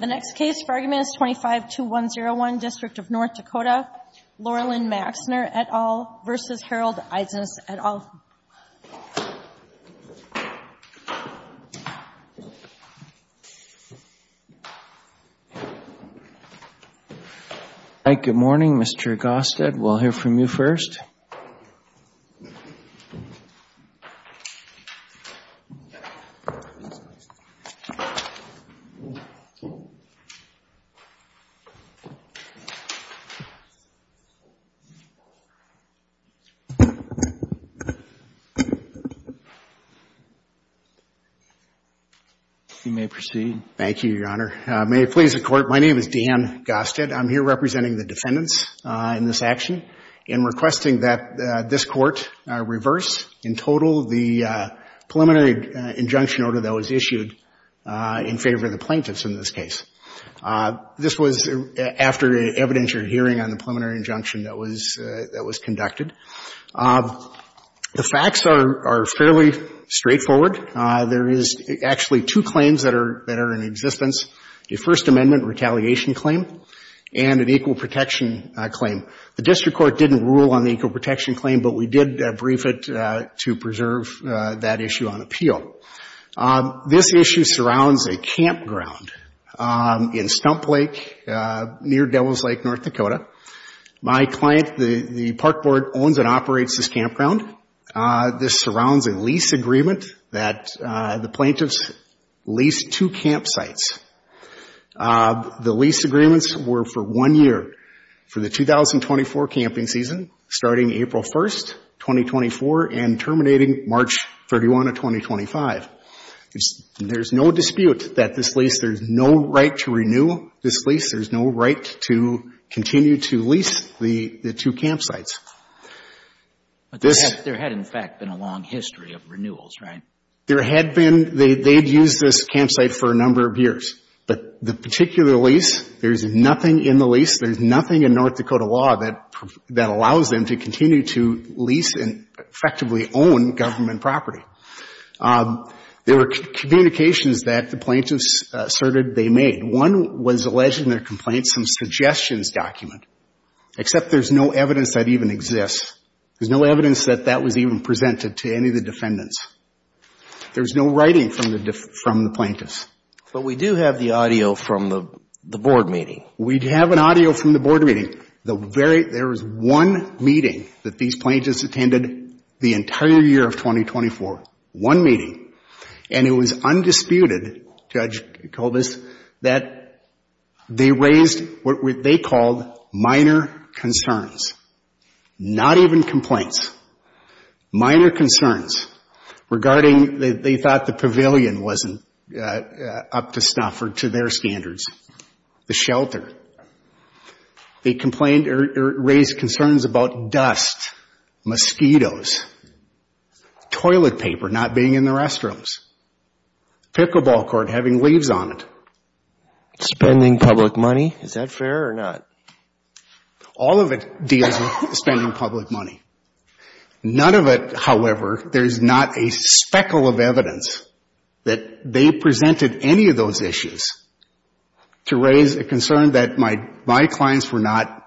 The next case for argument is 25-201, District of North Dakota, Loralyn Maixner et al. v. Harold Eidsness et al. Good morning, Mr. Gostin, we'll hear from you first. You may proceed. Thank you, Your Honor. May it please the Court, my name is Dan Gostin, I'm here representing the defendants in this action and requesting that this Court reverse in total the preliminary injunction order that was issued in favor of the plaintiffs in this case. This was after an evidentiary hearing on the preliminary injunction that was conducted. The facts are fairly straightforward. There is actually two claims that are in existence, a First Amendment retaliation claim and an equal protection claim. The District Court didn't rule on the equal protection claim, but we did brief it to preserve that issue on appeal. This issue surrounds a campground in Stump Lake near Devil's Lake, North Dakota. My client, the Park Board, owns and operates this campground. This surrounds a lease agreement that the plaintiffs lease two campsites. The lease agreements were for one year, for the 2024 camping season, starting April 1, 2024 and terminating March 31 of 2025. There's no dispute that this lease, there's no right to renew this lease, there's no right to continue to lease the two campsites. But there had, in fact, been a long history of renewals, right? There had been. They'd used this campsite for a number of years. But the particular lease, there's nothing in the lease, there's nothing in North Dakota law that allows them to continue to lease and effectively own government property. There were communications that the plaintiffs asserted they made. One was alleging their complaints in a suggestions document, except there's no evidence that even exists. There's no evidence that that was even presented to any of the defendants. There was no writing from the plaintiffs. But we do have the audio from the board meeting. We have an audio from the board meeting. There was one meeting that these plaintiffs attended the entire year of 2024, one meeting. And it was undisputed, Judge Colbus, that they raised what they called minor concerns, not even complaints, minor concerns regarding they thought the pavilion wasn't up to stuff or to their standards, the shelter. They complained or raised concerns about dust, mosquitoes, toilet paper not being in the restrooms, pickleball court having leaves on it. Spending public money, is that fair or not? All of it deals with spending public money. None of it, however, there's not a speckle of evidence that they presented any of those issues to raise a concern that my clients were not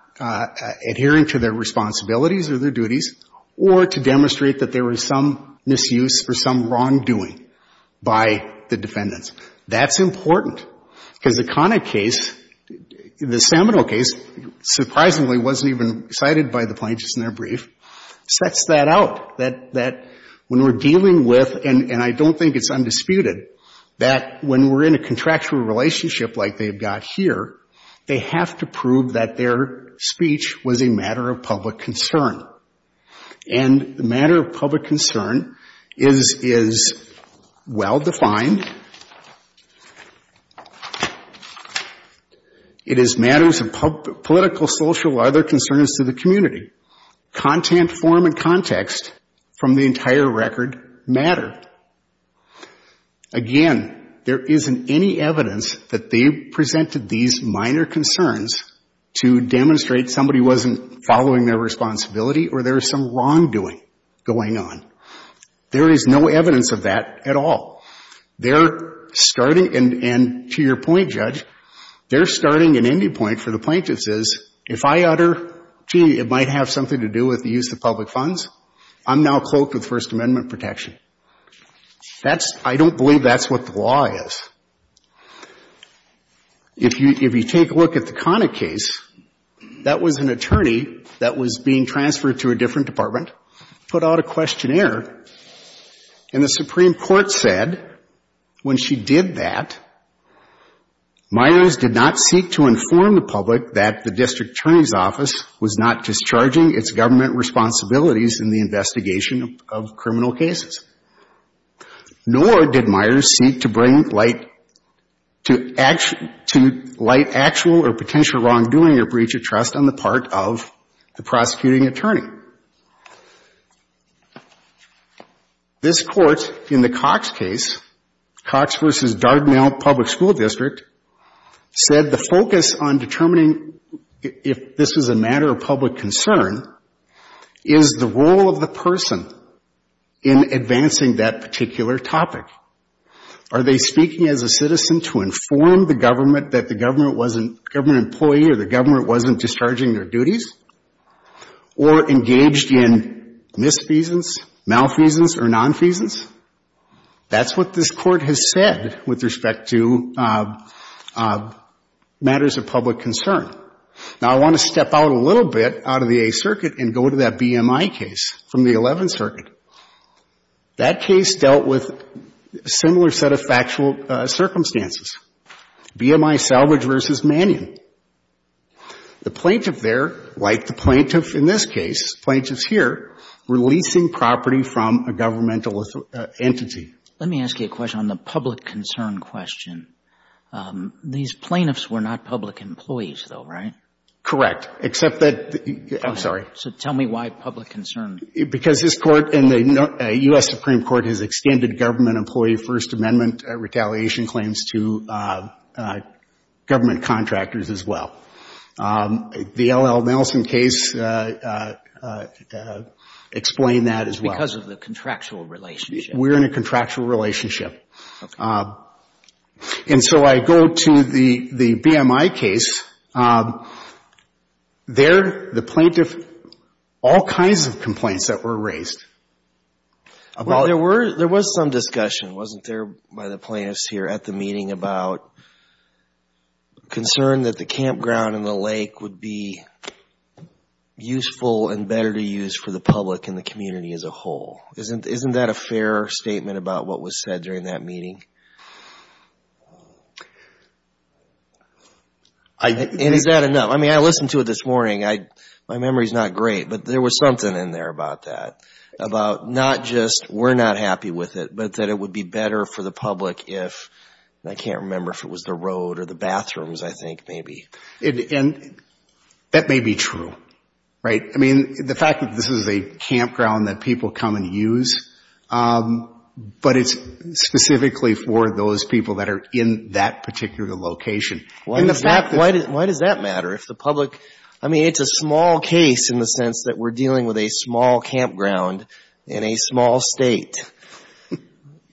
adhering to their responsibilities or their duties or to demonstrate that there was some misuse or some wrongdoing by the defendants. That's important because the Connick case, the Seminole case, surprisingly wasn't even cited by the plaintiffs in their brief, sets that out, that when we're dealing with, and I don't think it's undisputed, that when we're in a contractual relationship like they've got here, they have to prove that their speech was a matter of public concern. And the matter of public concern is well-defined. It is matters of political, social, or other concerns to the community. Content, form, and context from the entire record matter. Again, there isn't any evidence that they presented these minor concerns to demonstrate somebody wasn't following their responsibility or there was some wrongdoing going on. There is no evidence of that at all. And to your point, Judge, their starting and ending point for the plaintiffs is, if I utter, gee, it might have something to do with the use of public funds, I'm now cloaked with First Amendment protection. That's, I don't believe that's what the law is. If you take a look at the Connick case, that was an attorney that was being transferred to a different department, put out a questionnaire, and the Supreme Court said when she did that, Myers did not seek to inform the public that the district attorney's office was not discharging its government responsibilities in the investigation of criminal cases. Nor did Myers seek to bring light, to light actual or potential wrongdoing or breach of trust on the part of the prosecuting attorney. This Court, in the Cox case, Cox v. Dardenelle Public School District, said the focus on determining if this was a matter of public concern is the role of the person who was in advancing that particular topic. Are they speaking as a citizen to inform the government that the government wasn't employee or the government wasn't discharging their duties? Or engaged in misfeasance, malfeasance or nonfeasance? That's what this Court has said with respect to matters of public concern. Now, I want to step out a little bit out of the Eighth Circuit and go to that BMI case from the Eleventh Circuit. That case dealt with a similar set of factual circumstances, BMI Salvage v. Mannion. The plaintiff there, like the plaintiff in this case, plaintiff's here, releasing property from a governmental entity. Let me ask you a question on the public concern question. These plaintiffs were not public employees, though, right? Correct. Except that, I'm sorry. So tell me why public concern? Because this Court and the U.S. Supreme Court has extended government employee First Amendment retaliation claims to government contractors as well. The L.L. Nelson case explained that as well. Because of the contractual relationship. We're in a contractual relationship. And so I go to the BMI case. There, the plaintiff, all kinds of complaints that were raised. There was some discussion, wasn't there, by the plaintiffs here at the meeting about concern that the campground and the lake would be useful and better to use for the public and the community as a whole. Isn't that a fair statement about what was said during that meeting? And is that enough? I mean, I listened to it this morning. My memory is not great, but there was something in there about that, about not just we're not happy with it, but that it would be better for the public if, and I can't remember if it was the road or the bathrooms, I think, maybe. And that may be true, right? I mean, the fact that this is a campground that people come and use, but it's specifically for those people that are in that particular location. And the fact that the public, I mean, it's a small case in the sense that we're dealing with a small campground in a small State.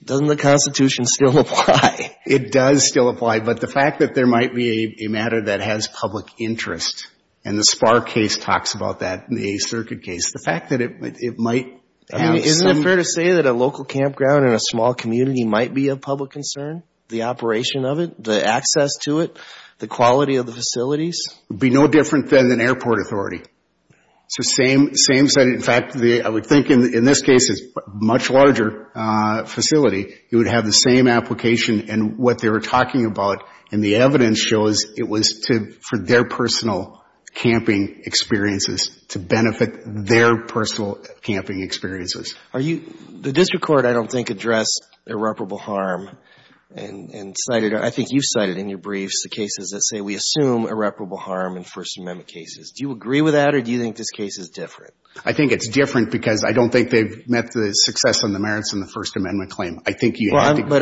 Doesn't the Constitution still apply? It does still apply, but the fact that there might be a matter that has public interest, and the SPAR case talks about that, the A Circuit case, the fact that it might have some... Isn't it fair to say that a local campground in a small community might be of public concern, the operation of it, the access to it, the quality of the facilities? It would be no different than an airport authority. In fact, I would think in this case, it's a much larger facility. It would have the same application and what they were talking about. And the evidence shows it was for their personal camping experiences, to benefit their personal camping experiences. The district court, I don't think, addressed irreparable harm and cited or I think you cited in your briefs the cases that say we assume irreparable harm in First Amendment cases. Do you agree with that or do you think this case is different? I think it's different because I don't think they've met the success and the merits in the First Amendment claim. I think you have to... I think we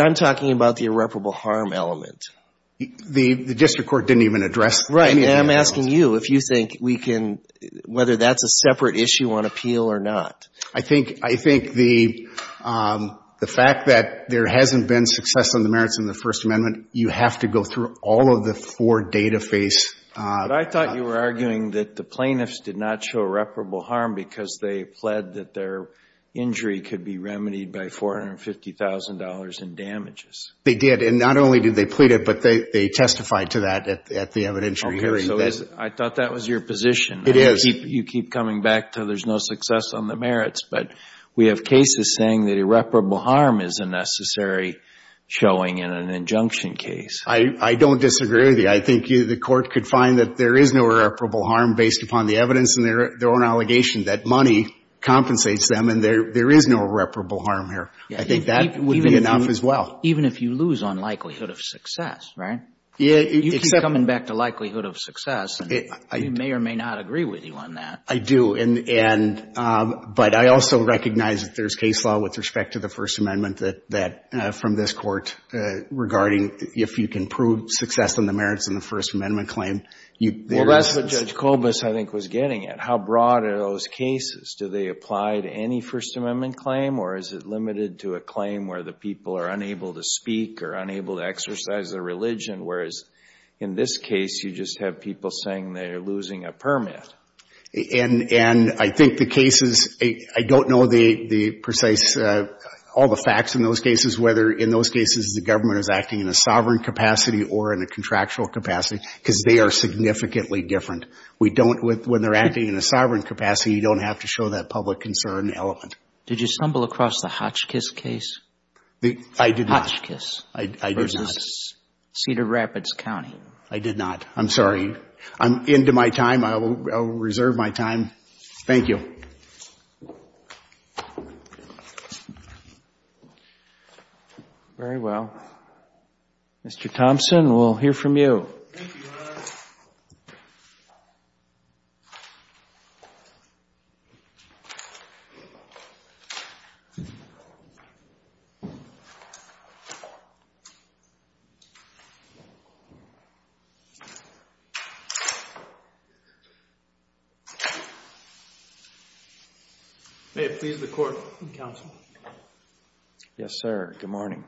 can, whether that's a separate issue on appeal or not. I think the fact that there hasn't been success on the merits in the First Amendment, you have to go through all of the four data face... But I thought you were arguing that the plaintiffs did not show irreparable harm because they pled that their injury could be remedied by $450,000 in damages. They did, and not only did they plead it, but they testified to that at the evidentiary hearing. I thought that was your position. You keep coming back to there's no success on the merits, but we have cases saying that irreparable harm is a necessary showing in an injunction case. I don't disagree with you. I think the Court could find that there is no irreparable harm based upon the evidence and their own allegation that money compensates them and there is no irreparable harm here. I think that would be enough as well. Even if you lose on likelihood of success, right? You keep coming back to likelihood of success, and we may or may not agree with you on that. I do. But I also recognize that there's case law with respect to the First Amendment that, from this Court, regarding if you can prove success on the merits in the First Amendment claim, there is... Well, that's what Judge Kobus, I think, was getting at. How broad are those cases? Do they apply to any First Amendment claim, or is it limited to a claim where the people are unable to speak or unable to exercise their religion, whereas in this case you just have people saying they are losing a permit? And I think the cases, I don't know the precise, all the facts in those cases, whether in those cases the government is acting in a sovereign capacity or in a contractual capacity, because they are significantly different. When they're acting in a sovereign capacity, you don't have to show that public concern element. Did you stumble across the Hotchkiss case? I did not. I'm sorry. I'm into my time. I'll reserve my time. Thank you. Very well. Mr. Thompson, we'll hear from you. May it please the Court and Counsel? Yes, sir. Good morning.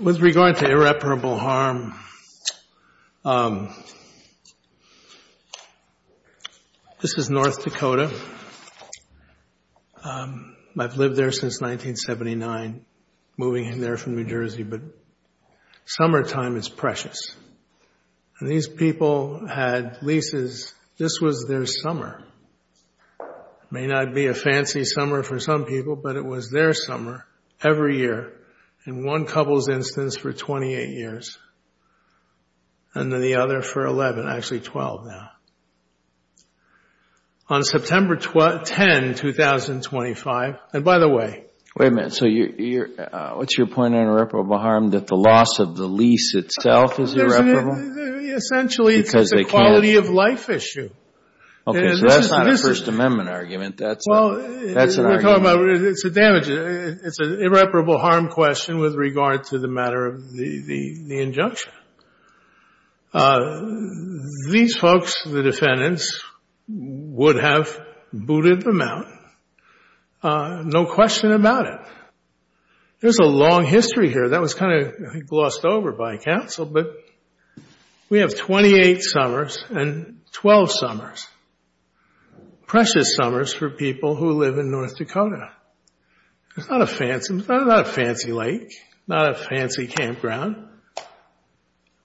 With regard to irreparable harm, this is North Dakota. I've lived there since 1979, moving in there from New Jersey, but summertime is precious. And these people had leases. This was their summer. It may not be a fancy summer for some people, but it was their summer every year, in one couple's instance for 28 years, and the other for 11, actually 12 now. It was September 10, 2025. And by the way — Wait a minute. So what's your point on irreparable harm, that the loss of the lease itself is irreparable? Essentially, it's a quality-of-life issue. Okay. So that's not a First Amendment argument. That's an argument. It's an irreparable harm question with regard to the matter of the injunction. These folks, the defendants, would have booted them out. No question about it. There's a long history here. That was kind of glossed over by counsel, but we have 28 summers and 12 summers. Precious summers for people who live in North Dakota. It's not a fancy lake, not a fancy campground.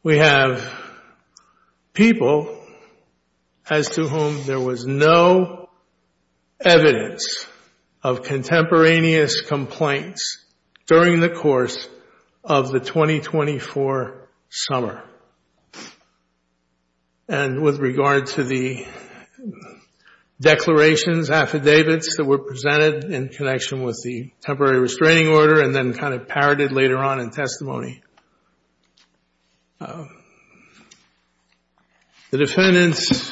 We have people as to whom there was no evidence of contemporaneous complaints during the course of the 2024 summer. And with regard to the declarations, affidavits that were presented in connection with the temporary restraining order and then kind of parroted later on in testimony. The defendants,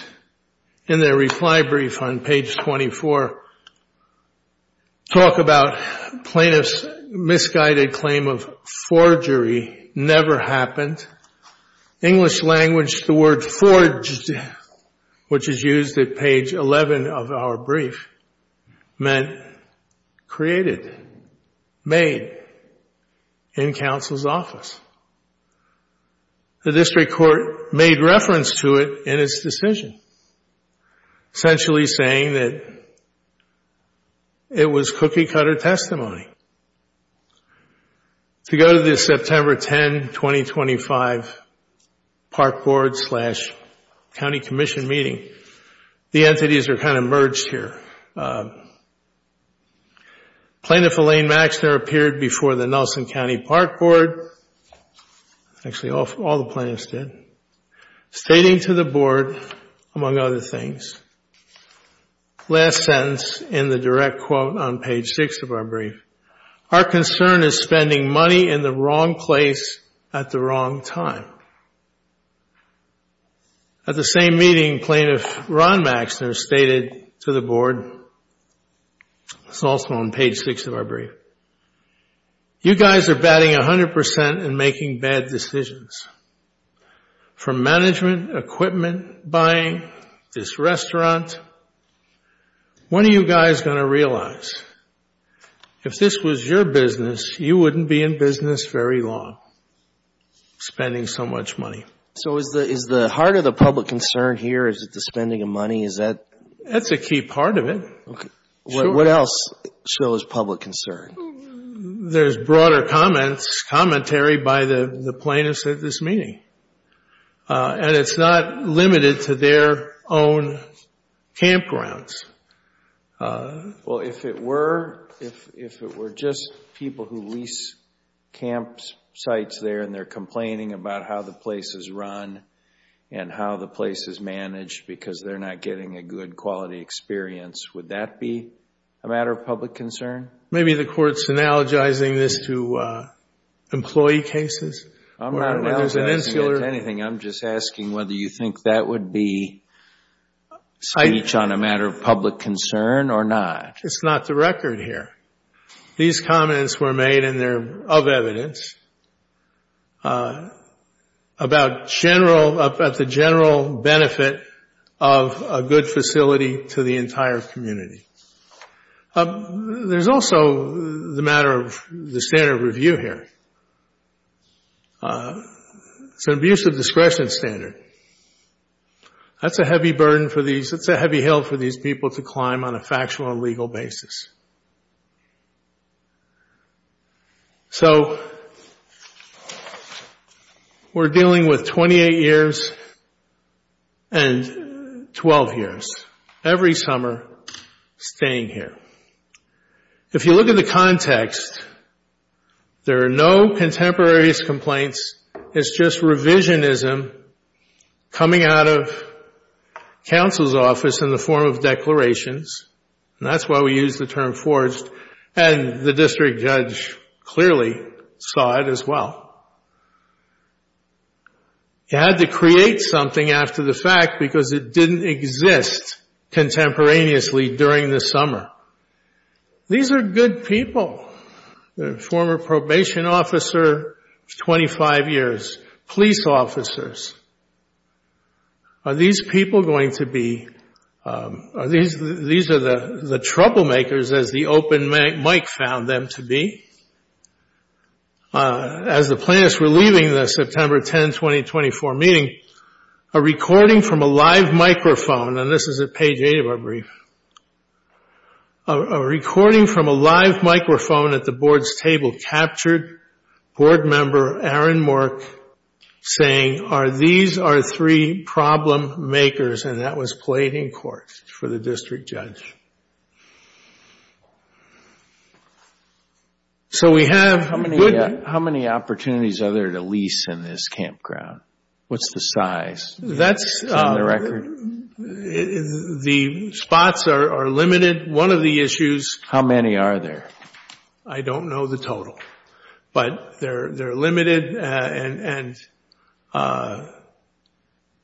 in their reply brief on page 24, talk about plaintiffs' misguided claim of forgery never happened. English language, the word forged, which is used at page 11 of our brief, meant created, made in counsel's office. The district court made reference to it in its decision, essentially saying that it was cookie-cutter testimony. To go to the September 10, 2025 Park Board slash County Commission meeting, the entities are kind of merged here. Plaintiff Elaine Maxner appeared before the Nelson County Park Board, actually all the plaintiffs did, stating to the board, among other things, last sentence in the direct quote on page 6 of our brief, our concern is spending money in the wrong place at the wrong time. At the same meeting, plaintiff Ron Maxner stated to the board, it's also on page 6 of our brief, you guys are batting 100 percent and making bad decisions. From management, equipment buying, this restaurant, what are you guys going to realize? If this was your business, you wouldn't be in business very long, spending so much money. So is the heart of the public concern here, is it the spending of money? That's a key part of it. What else shows public concern? There's broader commentary by the plaintiffs at this meeting. And it's not limited to their own campgrounds. Well, if it were just people who lease campsites there and they're complaining about how the place is run and how the place is managed because they're not getting a good quality experience, would that be a matter of public concern? Maybe the Court's analogizing this to employee cases. I'm not analogizing it to anything. I'm just asking whether you think that would be speech on a matter of public concern or not. It's not the record here. These comments were made and they're of evidence about the general benefit of a good facility to the entire community. There's also the matter of the standard of review here. It's an abuse of discretion standard. That's a heavy burden for these, that's a heavy hill for these people to climb on a factual and legal basis. So we're dealing with 28 years and 12 years, every summer staying here. If you look at the context, there are no contemporaneous complaints. It's just revisionism coming out of counsel's office in the form of declarations, and that's why we use the term forged, and the district judge clearly saw it as well. You had to create something after the fact because it didn't exist contemporaneously during the summer. These are good people. These are the troublemakers, as the open mic found them to be. As the plaintiffs were leaving the September 10, 2024 meeting, a recording from a live microphone, and this is at page 8 of our brief, a recording from a live microphone at the board's table that captured board member Aaron Mork saying, these are three problem makers, and that was played in court for the district judge. How many opportunities are there to lease in this campground? What's the size on the record? The spots are limited. How many are there? I don't know the total, but they're limited, and one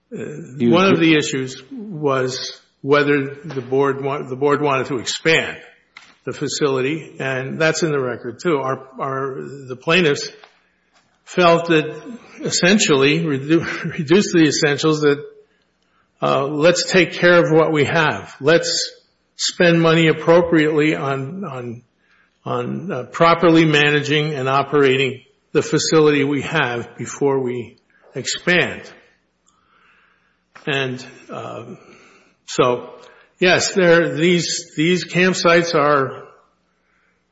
of the issues was whether the board wanted to expand the facility, and that's in the record too. The plaintiffs felt that essentially, reduced the essentials, that let's take care of what we have. Let's spend money appropriately on properly managing and operating the facility we have before we expand. Yes, these campsites are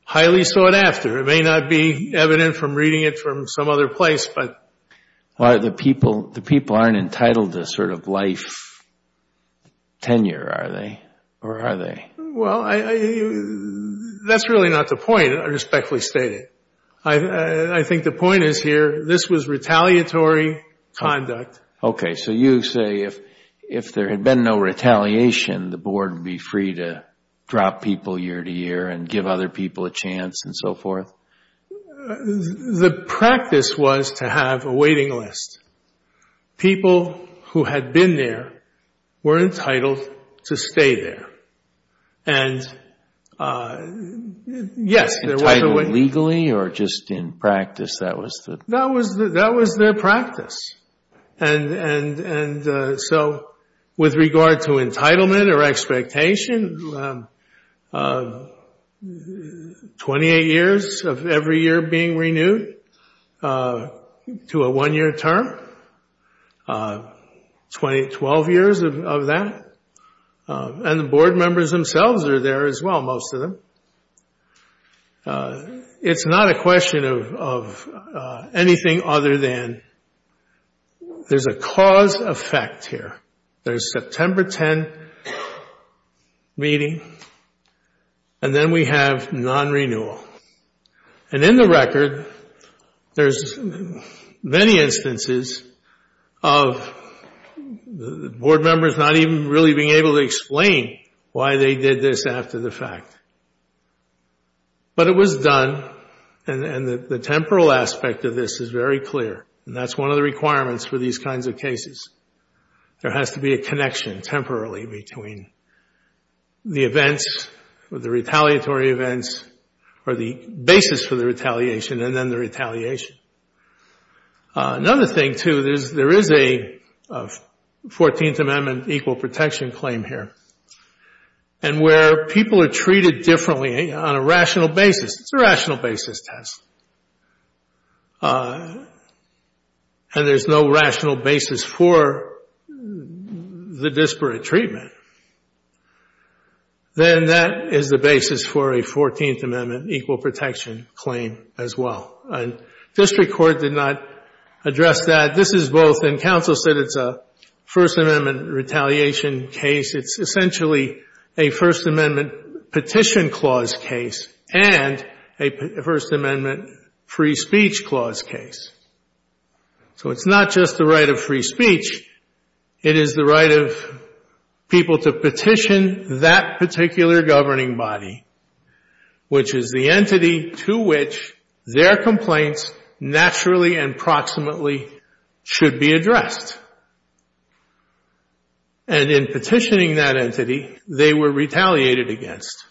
highly sought after. It may not be evident from reading it from some other place. The people aren't entitled to sort of life tenure, are they, or are they? Well, that's really not the point, I respectfully state it. I think the point is here, this was retaliatory conduct. Okay, so you say if there had been no retaliation, the board would be free to drop people year to year and give other people a chance and so forth? The practice was to have a waiting list. People who had been there were entitled to stay there. Yes, there was a waiting list. Entitled legally or just in practice, that was the... With regard to entitlement or expectation, 28 years of every year being renewed to a one-year term, 12 years of that, and the board members themselves are there as well, most of them. It's not a question of anything other than there's a cause effect here. There's a September 10 meeting, and then we have non-renewal. And in the record, there's many instances of the board members not even really being able to explain why they did this after the fact. But it was done, and the temporal aspect of this is very clear. And that's one of the requirements for these kinds of cases. There has to be a connection temporarily between the events or the retaliatory events or the basis for the retaliation and then the retaliation. Another thing, too, there is a 14th Amendment equal protection claim here. And where people are treated differently on a rational basis, it's a rational basis test. And there's no rational basis for the disparate treatment. Then that is the basis for a 14th Amendment equal protection claim as well. And district court did not address that. This is both, and counsel said it's a First Amendment retaliation case. It's essentially a First Amendment petition clause case and a First Amendment free speech clause case. So it's not just the right of free speech. It is the right of people to petition that particular governing body, which is the entity to which their complaints naturally and proximately should be addressed. And in petitioning that entity, they were retaliated against.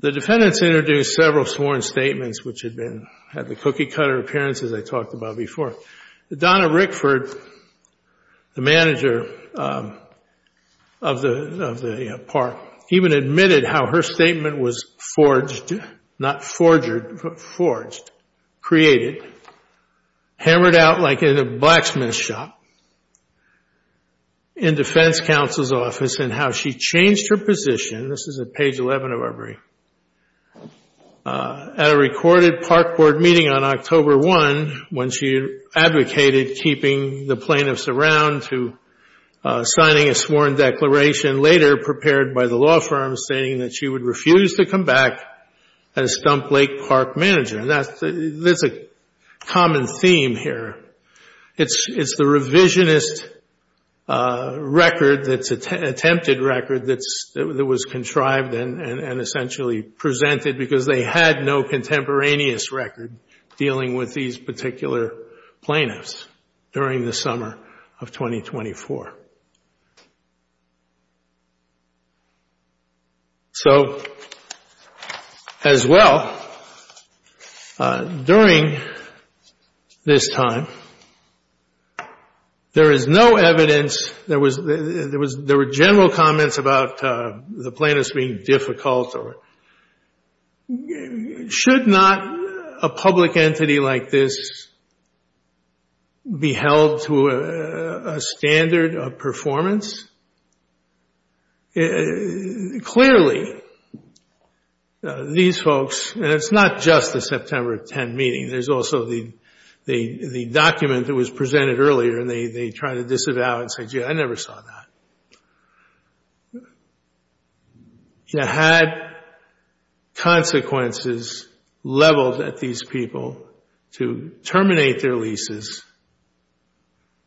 The defendants introduced several sworn statements, which had the cookie-cutter appearances I talked about before. Donna Rickford, the manager of the park, even admitted how her statement was forged, not forgered, forged, created, hammered out like in a blacksmith shop in defense counsel's office and how she changed her position, this is at page 11 of our brief, at a recorded park board meeting on October 1 when she advocated keeping the plaintiffs around to signing a sworn declaration later prepared by the law firm stating that she would refuse to come back as Stump Lake Park Manager. And that's a common theme here. It's the revisionist record, attempted record, that was contrived and essentially presented because they had no contemporaneous record dealing with these particular plaintiffs during the summer of 2024. So, as well, during this time, there is no evidence, there were general comments about the plaintiffs being difficult. Should not a public entity like this be held to a standard of performance? Clearly, these folks, and it's not just the September 10 meeting, there's also the document that was presented earlier and they try to disavow and say, gee, I never saw that. You had consequences leveled at these people to terminate their leases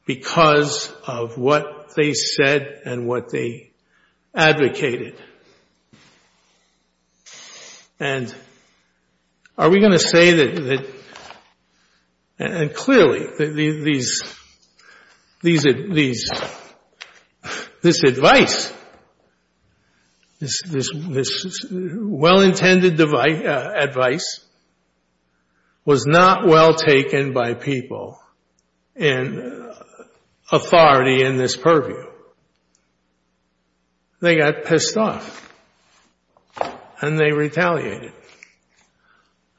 because of what they said and what they advocated. And are we going to say that, and clearly, this advice, this well-intended advice, was not well taken by people in authority in this purview? They got pissed off and they retaliated.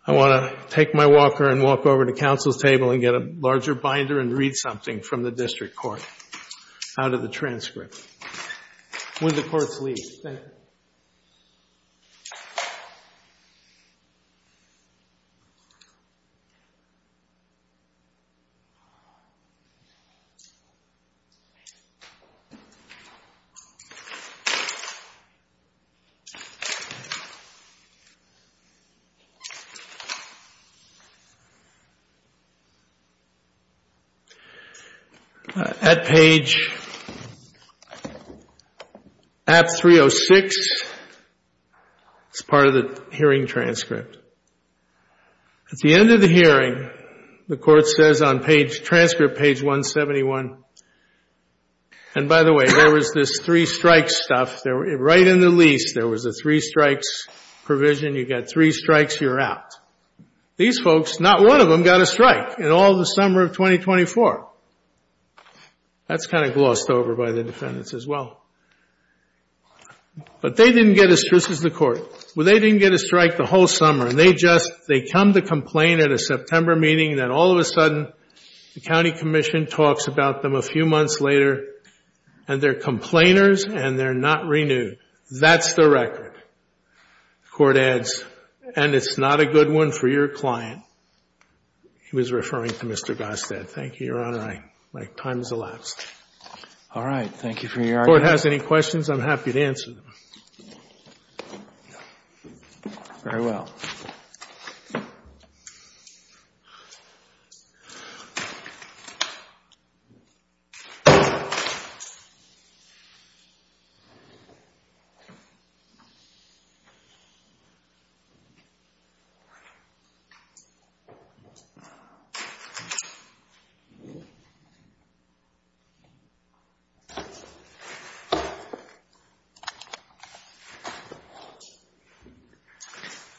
I want to take my walker and walk over to counsel's table and get a larger binder and read something from the district court out of the transcript. When the courts leave. Thank you. All right. At page, at 306, it's part of the hearing transcript. At the end of the hearing, the court says on page, transcript page 171, and by the way, there was this three strikes stuff. Right in the lease, there was a three strikes provision. You got three strikes, you're out. These folks, not one of them got a strike in all the summer of 2024. That's kind of glossed over by the defendants as well. But they didn't get as strict as the court. They didn't get a strike the whole summer, and they come to complain at a September meeting, and then all of a sudden, the county commission talks about them a few months later, and they're complainers and they're not renewed. That's the record. The court adds, and it's not a good one for your client. He was referring to Mr. Gostad. Thank you, Your Honor. My time has elapsed. All right. Thank you for your argument. If the court has any questions, I'm happy to answer them. Very well. Thank you.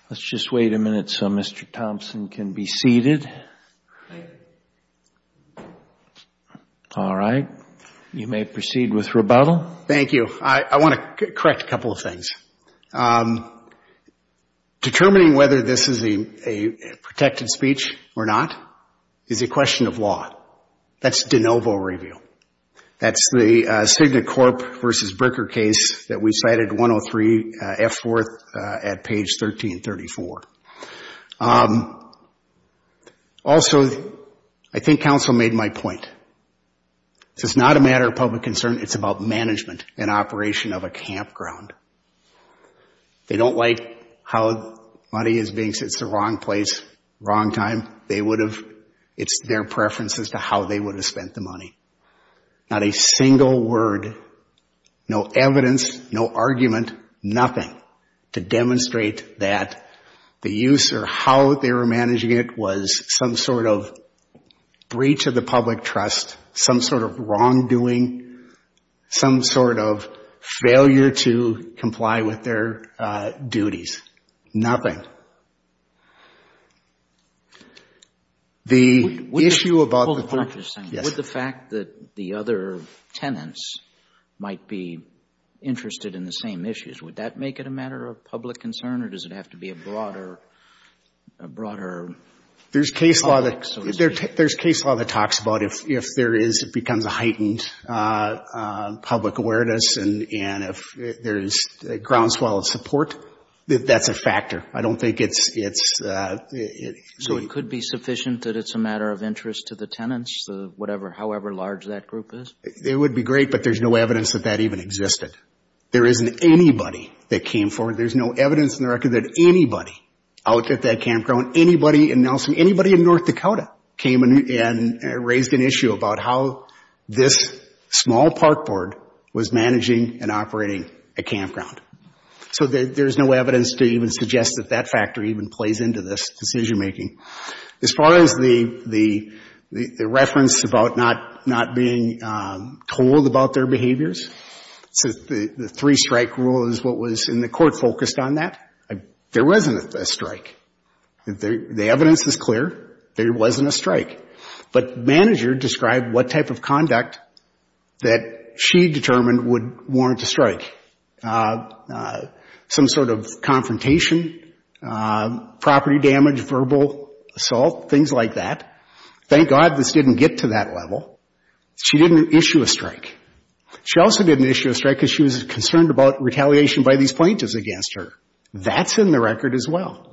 Let's just wait a minute so Mr. Thompson can be seated. Thank you. All right. You may proceed with rebuttal. Thank you. I want to correct a couple of things. Determining whether this is a protected speech or not is a question of law. That's de novo review. That's the Cigna Corp. v. Bricker case that we cited 103F4 at page 1334. Also, I think counsel made my point. This is not a matter of public concern. It's about management and operation of a campground. They don't like how money is being spent. It's the wrong place, wrong time. It's their preference as to how they would have spent the money. Not a single word, no evidence, no argument, nothing, to demonstrate that the use or how they were managing it was some sort of breach of the public trust, some sort of wrongdoing, some sort of failure to comply with their duties. Nothing. The issue about the fact that the other tenants might be interested in the same issues, would that make it a matter of public concern, or does it have to be a broader public association? There's case law that talks about if there is, it becomes a heightened public awareness, and if there's groundswell of support, that that's a factor. I don't think it's so. So it could be sufficient that it's a matter of interest to the tenants, however large that group is? It would be great, but there's no evidence that that even existed. There isn't anybody that came forward. There's no evidence in the record that anybody out at that campground, anybody in Nelson, anybody in North Dakota came and raised an issue about how this small park board was managing and operating a campground. So there's no evidence to even suggest that that factor even plays into this decision making. As far as the reference about not being told about their behaviors, the three-strike rule is what was in the court focused on that. There wasn't a strike. The evidence is clear. There wasn't a strike. But the manager described what type of conduct that she determined would warrant a strike, some sort of confrontation, property damage, verbal assault, things like that. Thank God this didn't get to that level. She didn't issue a strike. She also didn't issue a strike because she was concerned about retaliation by these plaintiffs against her. That's in the record as well.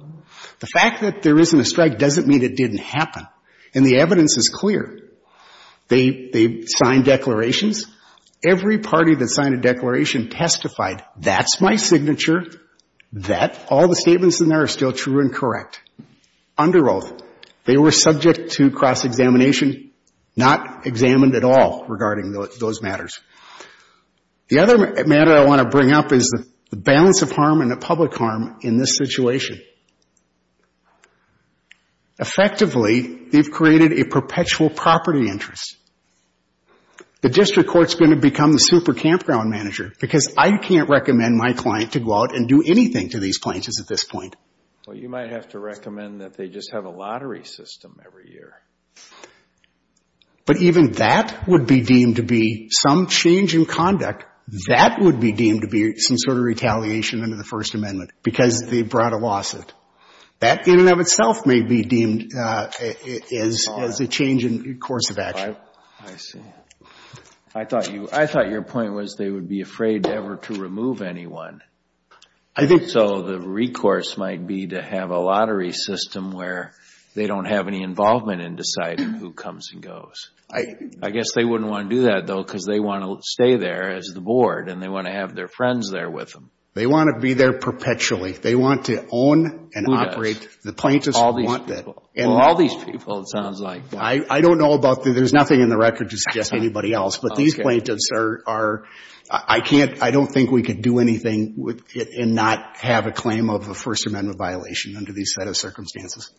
The fact that there isn't a strike doesn't mean it didn't happen. And the evidence is clear. They signed declarations. Every party that signed a declaration testified, that's my signature, that, all the statements in there are still true and correct. Under oath, they were subject to cross-examination, not examined at all regarding those matters. The other matter I want to bring up is the balance of harm and the public harm in this situation. Effectively, they've created a perpetual property interest. The district court's going to become the super campground manager because I can't recommend my client to go out and do anything to these plaintiffs at this point. Well, you might have to recommend that they just have a lottery system every year. But even that would be deemed to be some change in conduct. That would be deemed to be some sort of retaliation under the First Amendment because they brought a lawsuit. That in and of itself may be deemed as a change in course of action. I see. I thought your point was they would be afraid ever to remove anyone. So the recourse might be to have a lottery system where they don't have any involvement in deciding who comes and goes. I guess they wouldn't want to do that, though, because they want to stay there as the board and they want to have their friends there with them. They want to be there perpetually. They want to own and operate. Who does? The plaintiffs want that. All these people. Well, all these people, it sounds like. I don't know about the, there's nothing in the record to suggest anybody else. Okay. I don't think we could do anything and not have a claim of a First Amendment violation under these set of circumstances.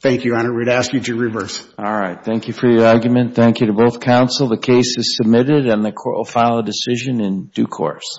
Thank you, Your Honor. We'd ask you to reverse. All right. Thank you for your argument. Thank you to both counsel. The case is submitted and the court will file a decision in due course.